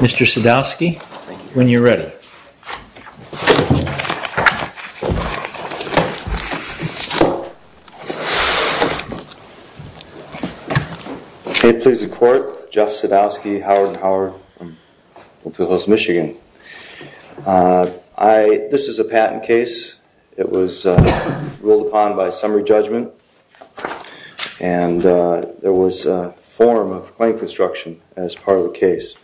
Mr. Sadowski, when you're ready. May it please the court, Jeff Sadowski, Howard and Howard from Oak Hill Hills, Michigan. This is a patent case. It was ruled upon by summary judgment and there was a form of claim construction as part of the case.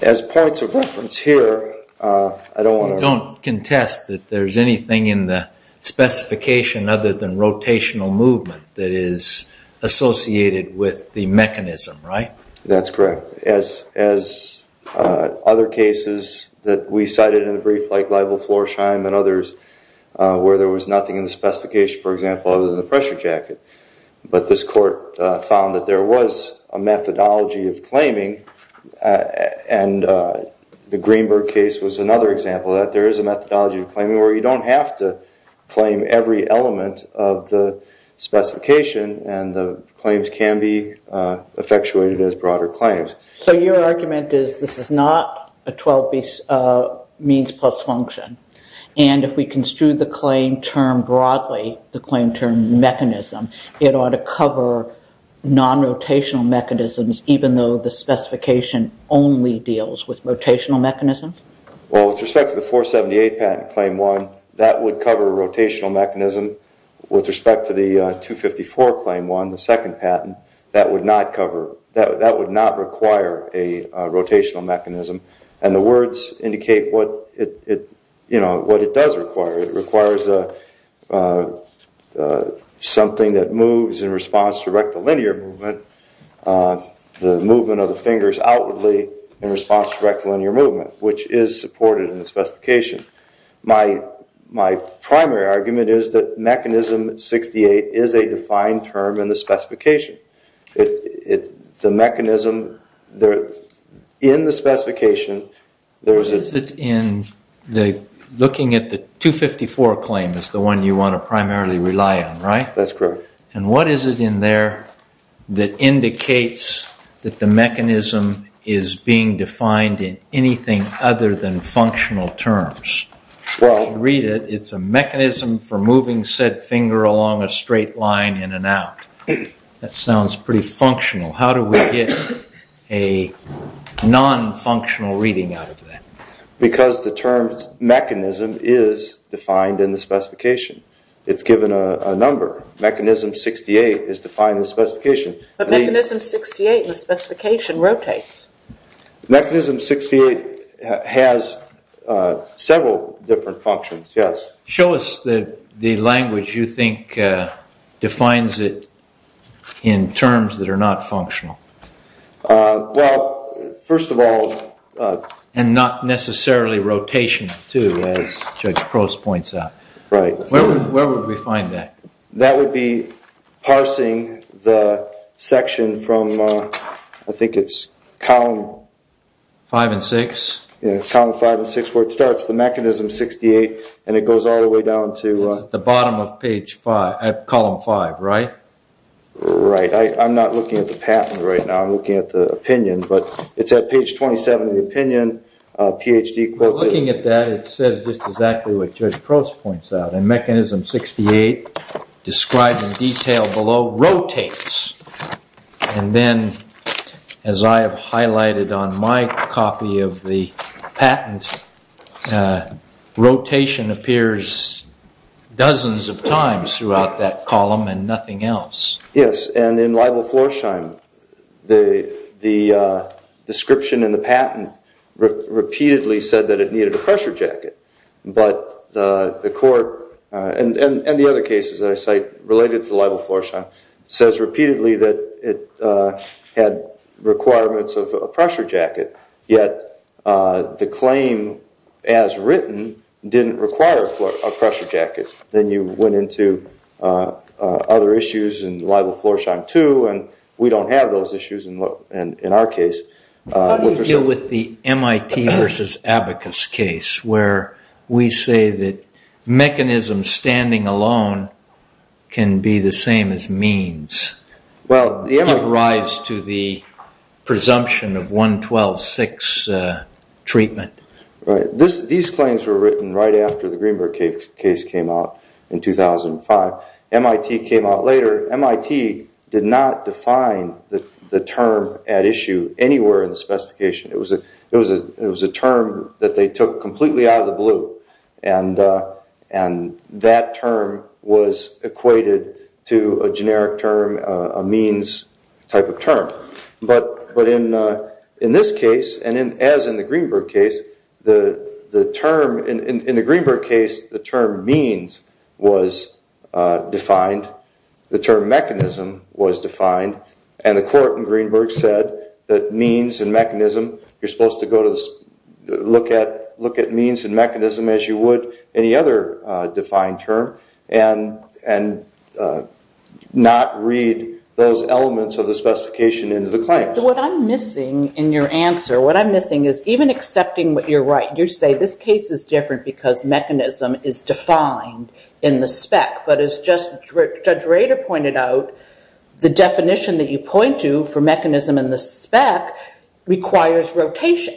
As points of reference here, I don't want to- You don't contest that there's anything in the specification other than rotational movement that is associated with the mechanism, right? That's correct. As other cases that we cited in the brief, like Liable Floor Shime and others, where there was nothing in the specification, for example, other than the pressure jacket. But this court found that there was a methodology of claiming and the Greenberg case was another example of that. There is a methodology of claiming where you don't have to claim every element of the specification and the claims can be effectuated as broader claims. So your argument is this is not a 12-piece means plus function. If we construed the claim term broadly, the claim term mechanism, it ought to cover non-rotational mechanisms even though the specification only deals with rotational mechanisms? Well, with respect to the 478 patent claim one, that would cover a rotational mechanism. With respect to the 254 claim one, the second patent, that would not cover- that would not require a rotational mechanism. And the words indicate what it does require. It requires something that moves in response to rectilinear movement, the movement of the fingers outwardly in response to rectilinear movement, which is supported in the specification. My primary argument is that mechanism 68 is a defined term in the specification. The mechanism- in the specification, there is a- Is it in the- looking at the 254 claim is the one you want to primarily rely on, right? That's correct. And what is it in there that indicates that the mechanism is being defined in anything other than functional terms? Well- Read it. It's a mechanism for moving said finger along a straight line in and out. That sounds pretty functional. How do we get a non-functional reading out of that? Because the term mechanism is defined in the specification. It's given a number. Mechanism 68 is defined in the specification. But mechanism 68 in the specification rotates. Mechanism 68 has several different functions, yes. Show us the language you think defines it in terms that are not functional. Well, first of all- And not necessarily rotational, too, as Judge Crouse points out. Right. Where would we find that? That would be parsing the section from- I think it's column- Five and six? Yeah, column five and six, where it starts. The mechanism 68, and it goes all the way down to- It's at the bottom of page five, column five, right? Right. I'm not looking at the patent right now. I'm looking at the opinion. But it's at page 27 of the opinion. Ph.D. quotes- Looking at that, it says just exactly what Judge Crouse points out. And mechanism 68, described in detail below, rotates. And then, as I have highlighted on my copy of the patent, rotation appears dozens of times throughout that column and nothing else. Yes, and in libel-florsheim, the description in the patent repeatedly said that it needed a pressure jacket. But the court, and the other cases that I cite related to libel-florsheim, says repeatedly that it had requirements of a pressure jacket. Yet, the claim as written didn't require a pressure jacket. Then you went into other issues in libel-florsheim too, and we don't have those issues in our case. How do you deal with the MIT versus Abacus case, where we say that mechanisms standing alone can be the same as means? It arrives to the presumption of 112.6 treatment. Right. These claims were written right after the Greenberg case came out in 2005. MIT came out later. MIT did not define the term at issue anywhere in the specification. It was a term that they took completely out of the blue, and that term was equated to a generic term, a means type of term. But in this case, and as in the Greenberg case, in the Greenberg case, the term means was defined. The term mechanism was defined, and the court in Greenberg said that means and mechanism, you're supposed to look at means and mechanism as you would any other defined term and not read those elements of the specification into the claims. What I'm missing in your answer, what I'm missing is even accepting what you're right, you say this case is different because mechanism is defined in the spec. But as Judge Rader pointed out, the definition that you point to for mechanism in the spec requires rotation.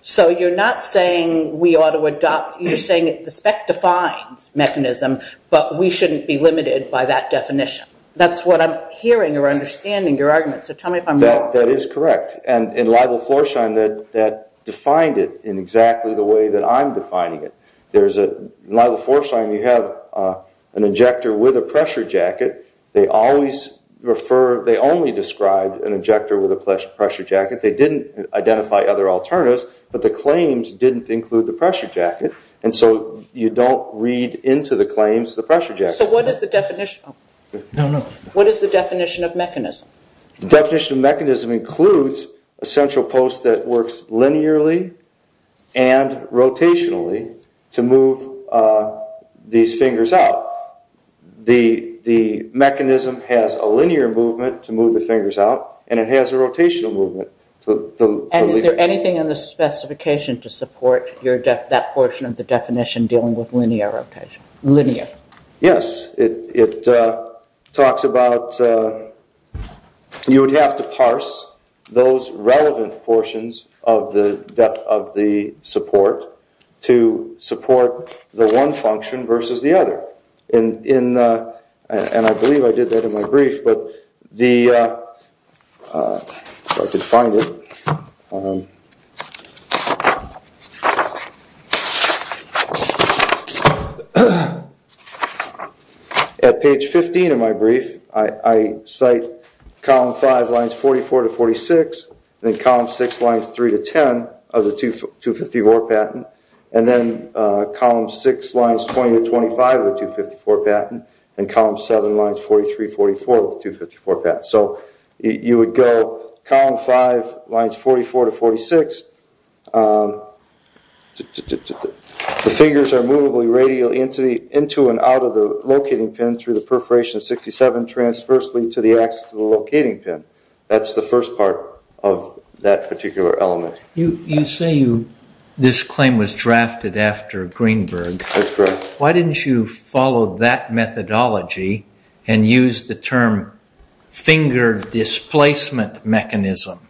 So you're not saying we ought to adopt, you're saying the spec defines mechanism, but we shouldn't be limited by that definition. That's what I'm hearing or understanding your argument. So tell me if I'm wrong. That is correct. And in Libel-Forsheim, that defined it in exactly the way that I'm defining it. In Libel-Forsheim, you have an injector with a pressure jacket. They only described an injector with a pressure jacket. They didn't identify other alternatives, but the claims didn't include the pressure jacket, and so you don't read into the claims the pressure jacket. So what is the definition of mechanism? The definition of mechanism includes a central post that works linearly and rotationally to move these fingers out. The mechanism has a linear movement to move the fingers out, and it has a rotational movement. And is there anything in the specification to support that portion of the definition dealing with linear rotation? Yes. It talks about you would have to parse those relevant portions of the support to support the one function versus the other. And I believe I did that in my brief. At page 15 of my brief, I cite column 5 lines 44 to 46, and then column 6 lines 3 to 10 of the 254 patent, and then column 6 lines 20 to 25 of the 254 patent, and column 7 lines 43, 44 of the 254 patent. So you would go column 5 lines 44 to 46. The figures are movably radial into and out of the locating pin through the perforation of 67 transversely to the axis of the locating pin. That's the first part of that particular element. You say this claim was drafted after Greenberg. That's correct. Why didn't you follow that methodology and use the term finger displacement mechanism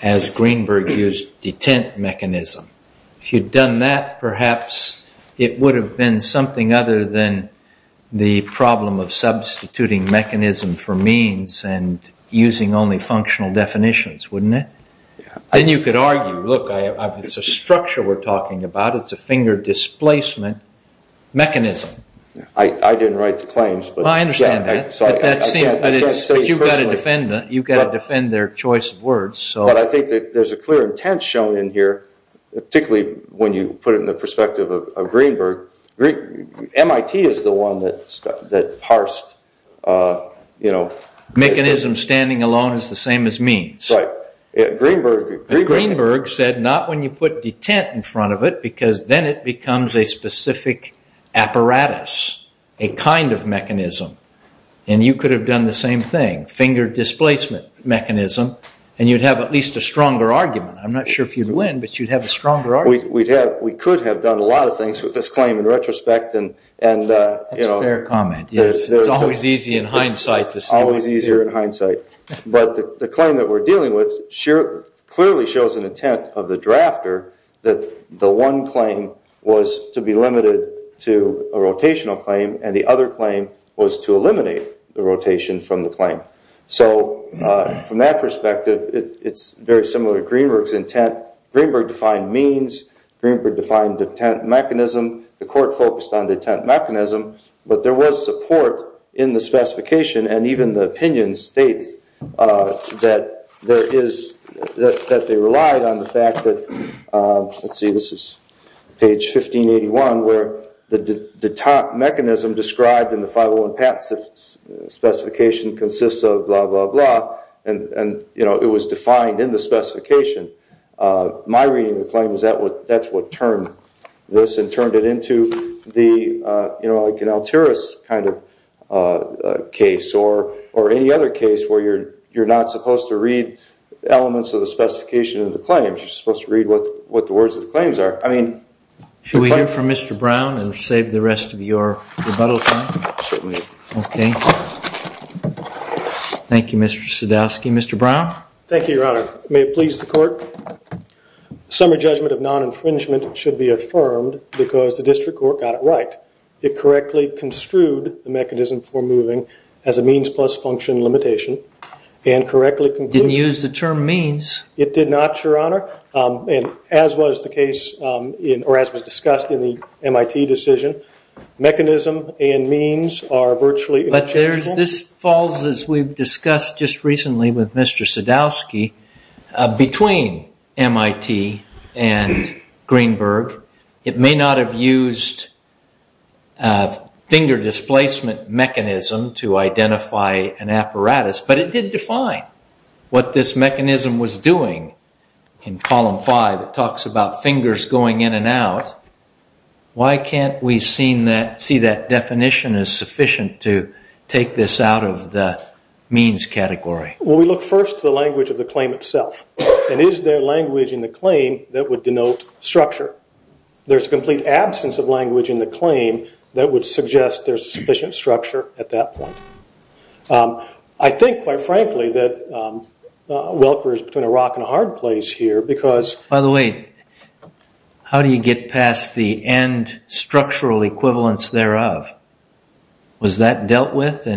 as Greenberg used detent mechanism? If you'd done that, perhaps it would have been something other than the problem of substituting mechanism for means and using only functional definitions, wouldn't it? Then you could argue, look, it's a structure we're talking about. It's a finger displacement mechanism. I didn't write the claims. I understand that. But you've got to defend their choice of words. But I think that there's a clear intent shown in here, particularly when you put it in the perspective of Greenberg. MIT is the one that parsed, you know. Mechanism standing alone is the same as means. Right. Greenberg said not when you put detent in front of it, because then it becomes a specific apparatus, a kind of mechanism. And you could have done the same thing, finger displacement mechanism, and you'd have at least a stronger argument. I'm not sure if you'd win, but you'd have a stronger argument. We could have done a lot of things with this claim in retrospect. That's a fair comment. It's always easy in hindsight. It's always easier in hindsight. But the claim that we're dealing with clearly shows an intent of the drafter that the one claim was to be limited to a rotational claim and the other claim was to eliminate the rotation from the claim. So from that perspective, it's very similar to Greenberg's intent. Greenberg defined means. Greenberg defined detent mechanism. The court focused on detent mechanism. But there was support in the specification, and even the opinion states that they relied on the fact that, let's see, this is page 1581 where the detent mechanism described in the 501 patent specification consists of blah, blah, blah, and it was defined in the specification. My reading of the claim is that's what turned this and turned it into an Alturas kind of case or any other case where you're not supposed to read elements of the specification of the claims. You're supposed to read what the words of the claims are. Should we hear from Mr. Brown and save the rest of your rebuttal time? Certainly. OK. Thank you, Mr. Sadowski. Thank you, Your Honor. May it please the court. Summary judgment of non-infringement should be affirmed because the district court got it right. It correctly construed the mechanism for moving as a means plus function limitation and correctly concluded- Didn't use the term means. It did not, Your Honor. As was the case or as was discussed in the MIT decision, mechanism and means are virtually interchangeable. But this falls, as we've discussed just recently with Mr. Sadowski, between MIT and Greenberg. It may not have used finger displacement mechanism to identify an apparatus, but it did define what this mechanism was doing. In Column 5, it talks about fingers going in and out. Why can't we see that definition as sufficient to take this out of the means category? Well, we look first to the language of the claim itself. And is there language in the claim that would denote structure? There's a complete absence of language in the claim that would suggest there's sufficient structure at that point. I think, quite frankly, that Welker is between a rock and a hard place here because- By the way, how do you get past the end structural equivalence thereof? Was that dealt with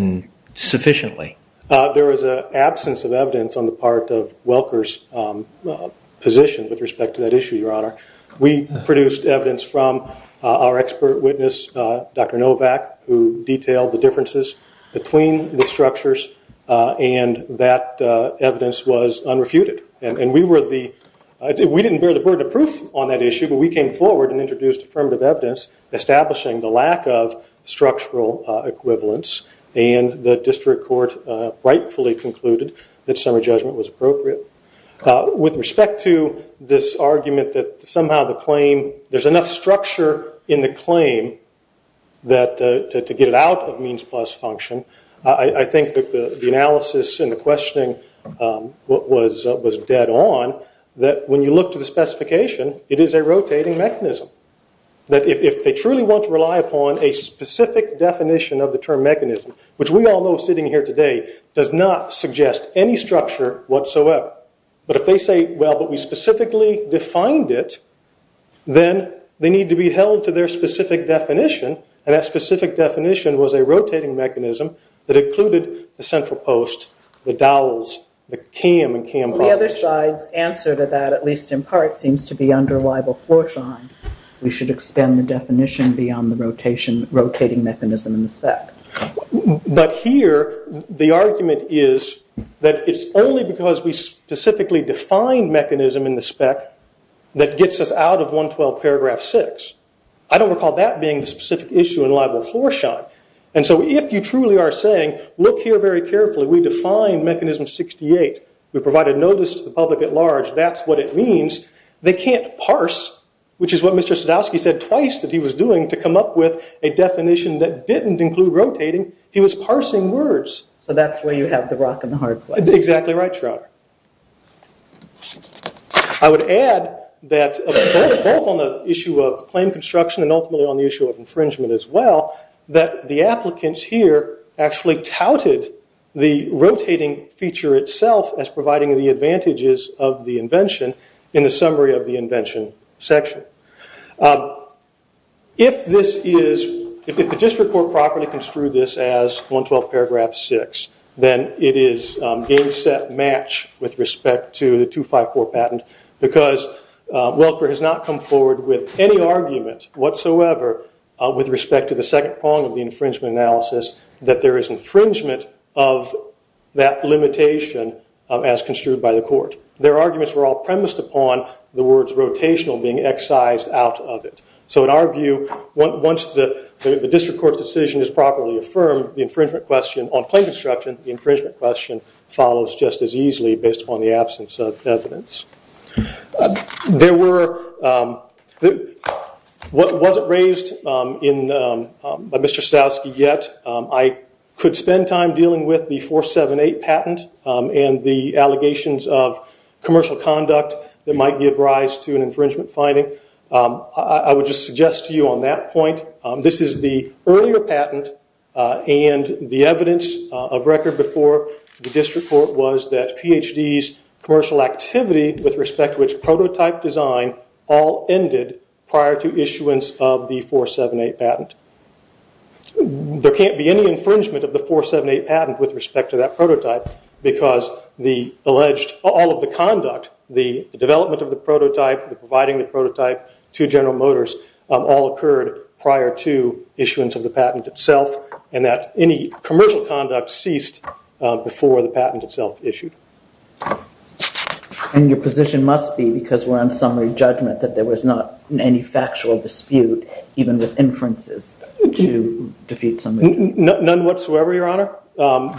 sufficiently? There was an absence of evidence on the part of Welker's position with respect to that issue, Your Honor. We produced evidence from our expert witness, Dr. Novak, who detailed the differences between the structures, and that evidence was unrefuted. And we didn't bear the burden of proof on that issue, but we came forward and introduced affirmative evidence establishing the lack of structural equivalence, and the district court rightfully concluded that summary judgment was appropriate. With respect to this argument that somehow the claim- there's enough structure in the claim to get it out of means plus function, I think that the analysis and the questioning was dead on, that when you look to the specification, it is a rotating mechanism. That if they truly want to rely upon a specific definition of the term mechanism, which we all know sitting here today does not suggest any structure whatsoever, but if they say, well, but we specifically defined it, then they need to be held to their specific definition, and that specific definition was a rotating mechanism that included the central post, the dowels, the cam and cam- Well, the other side's answer to that, at least in part, seems to be under libel-floor-shine. We should extend the definition beyond the rotating mechanism in the spec. But here, the argument is that it's only because we specifically define mechanism in the spec that gets us out of 112 paragraph 6. I don't recall that being the specific issue in libel-floor-shine. And so if you truly are saying, look here very carefully, we define mechanism 68, we provide a notice to the public at large, that's what it means. They can't parse, which is what Mr. Sadowski said twice that he was doing to come up with a definition that didn't include rotating. He was parsing words. So that's where you have the rock and the hard place. Exactly right, Shrouder. I would add that both on the issue of claim construction and ultimately on the issue of infringement as well, that the applicants here actually touted the rotating feature itself as providing the advantages of the invention in the summary of the invention section. If the district court properly construed this as 112 paragraph 6, then it is game, set, match with respect to the 254 patent because Welker has not come forward with any argument whatsoever with respect to the second prong of the infringement analysis, that there is infringement of that limitation as construed by the court. Their arguments were all premised upon the words rotational being excised out of it. So in our view, once the district court's decision is properly affirmed, the infringement question on claim construction, the infringement question follows just as easily based upon the absence of evidence. What wasn't raised by Mr. Stavsky yet, I could spend time dealing with the 478 patent and the allegations of commercial conduct that might give rise to an infringement finding. I would just suggest to you on that point, this is the earlier patent and the evidence of record before the district court was that Ph.D.'s commercial activity with respect to its prototype design all ended prior to issuance of the 478 patent. There can't be any infringement of the 478 patent with respect to that prototype because all of the conduct, the development of the prototype, the providing the prototype to General Motors, all occurred prior to issuance of the patent itself and that any commercial conduct ceased before the patent itself issued. And your position must be, because we're on summary judgment, that there was not any factual dispute even with inferences to defeat somebody. None whatsoever, Your Honor.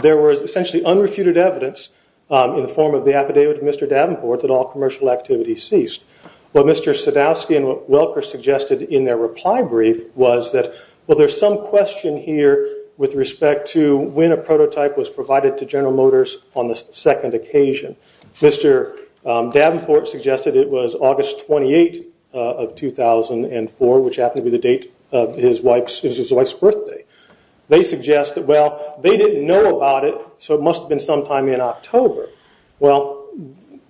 There was essentially unrefuted evidence in the form of the affidavit of Mr. Davenport that all commercial activity ceased. What Mr. Sadowski and Welker suggested in their reply brief was that, well, there's some question here with respect to when a prototype was provided to General Motors on the second occasion. Mr. Davenport suggested it was August 28 of 2004, which happened to be the date of his wife's birthday. They suggest that, well, they didn't know about it, so it must have been sometime in October. Well,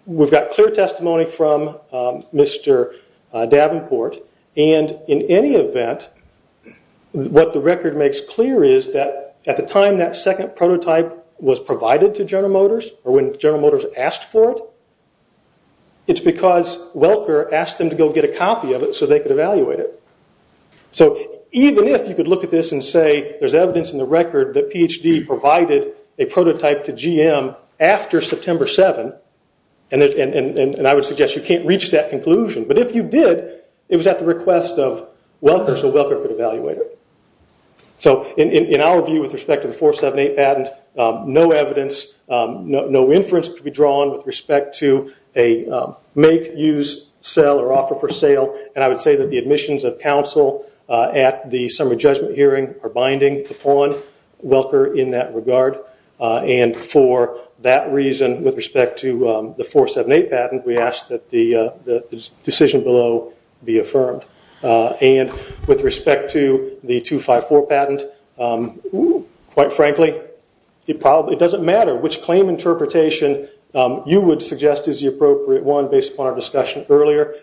we've got clear testimony from Mr. Davenport, and in any event, what the record makes clear is that at the time that second prototype was provided to General Motors or when General Motors asked for it, it's because Welker asked them to go get a copy of it so they could evaluate it. So even if you could look at this and say there's evidence in the record that Ph.D. provided a prototype to GM after September 7, and I would suggest you can't reach that conclusion, but if you did, it was at the request of Welker, so Welker could evaluate it. So in our view with respect to the 478 patent, no evidence, no inference to be drawn with respect to a make, use, sell, or offer for sale, and I would say that the admissions of counsel at the summer judgment hearing are binding upon Welker in that regard. And for that reason, with respect to the 478 patent, we ask that the decision below be affirmed. And with respect to the 254 patent, quite frankly, it doesn't matter which claim interpretation you would suggest is the appropriate one based upon our discussion earlier.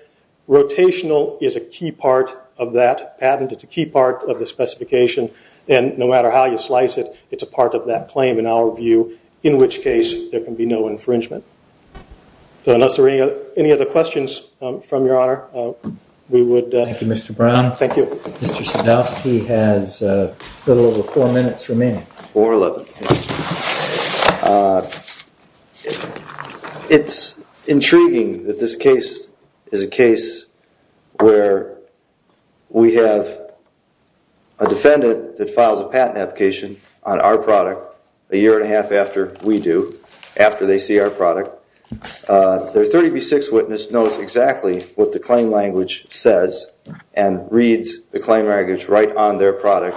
Rotational is a key part of that patent. It's a key part of the specification, and no matter how you slice it, it's a part of that claim in our view, in which case there can be no infringement. So unless there are any other questions from Your Honor, we would... Thank you, Mr. Brown. Thank you. Mr. Sadowski has a little over four minutes remaining. Four minutes. It's intriguing that this case is a case where we have a defendant that files a patent application on our product a year and a half after we do, after they see our product. Their 30B6 witness knows exactly what the claim language says and reads the claim language right on their product,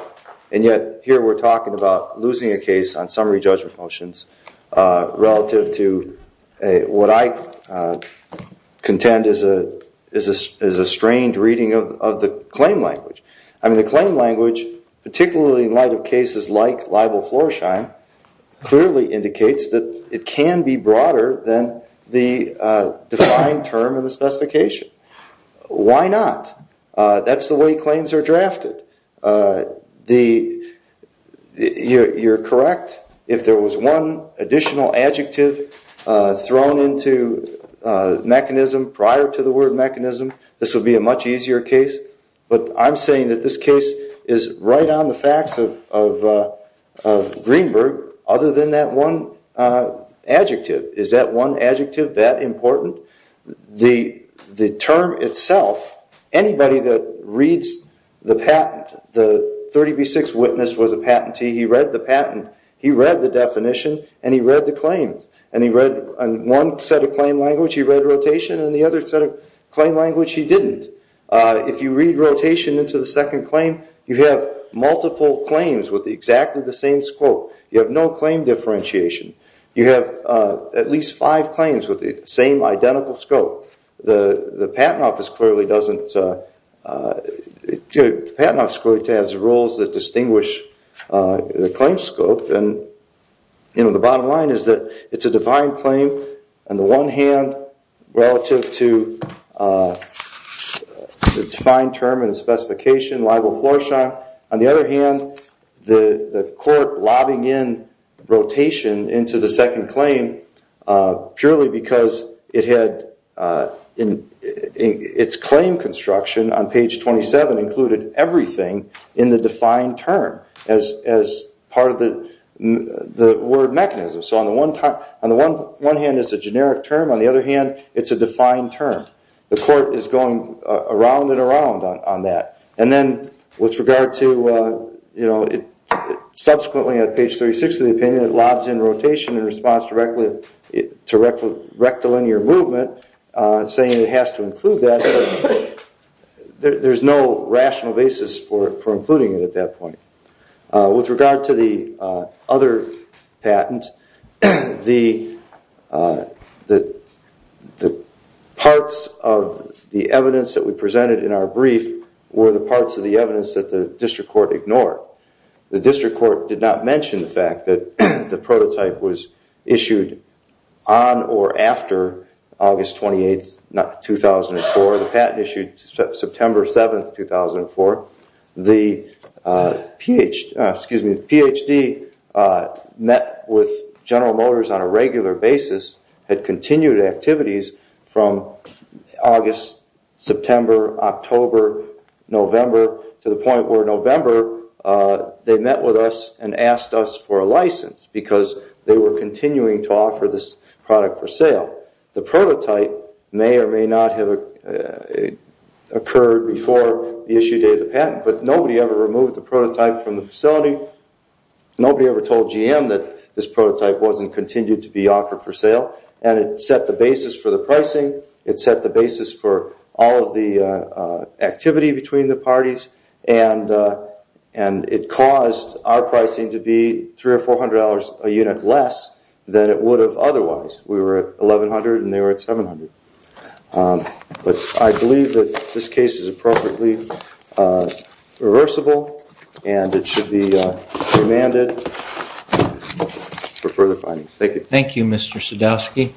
and yet here we're talking about losing a case on summary judgment motions relative to what I contend is a strained reading of the claim language. I mean, the claim language, particularly in light of cases like libel-floor-shine, clearly indicates that it can be broader than the defined term in the specification. Why not? That's the way claims are drafted. You're correct. If there was one additional adjective thrown into mechanism prior to the word mechanism, this would be a much easier case, but I'm saying that this case is right on the facts of Greenberg other than that one adjective. Is that one adjective that important? The term itself, anybody that reads the patent, the 30B6 witness was a patentee, he read the patent, he read the definition, and he read the claim. He read one set of claim language, he read rotation, and the other set of claim language he didn't. If you read rotation into the second claim, you have multiple claims with exactly the same scope. You have no claim differentiation. You have at least five claims with the same identical scope. The Patent Office clearly doesn't, the Patent Office clearly has rules that distinguish the claim scope, and the bottom line is that it's a defined claim on the one hand, relative to the defined term in the specification, libel-floor-shine. On the other hand, the court lobbying in rotation into the second claim purely because it had its claim construction on page 27 included everything in the defined term as part of the word mechanism. So on the one hand it's a generic term, on the other hand it's a defined term. The court is going around and around on that. And then with regard to, you know, subsequently on page 36 of the opinion, it lobs in rotation in response to rectilinear movement, saying it has to include that. There's no rational basis for including it at that point. With regard to the other patent, the parts of the evidence that we presented in our brief were the parts of the evidence that the district court ignored. The district court did not mention the fact that the prototype was issued on or after August 28, 2004. The patent issued September 7, 2004. The Ph.D. met with General Motors on a regular basis, had continued activities from August, September, October, November, to the point where November they met with us and asked us for a license because they were continuing to offer this product for sale. The prototype may or may not have occurred before the issue date of the patent, but nobody ever removed the prototype from the facility. Nobody ever told GM that this prototype wasn't continued to be offered for sale. And it set the basis for the pricing. It set the basis for all of the activity between the parties. And it caused our pricing to be $300 or $400 a unit less than it would have otherwise. We were at $1,100 and they were at $700. But I believe that this case is appropriately reversible and it should be remanded for further findings. Thank you. Thank you, Mr. Sadowski.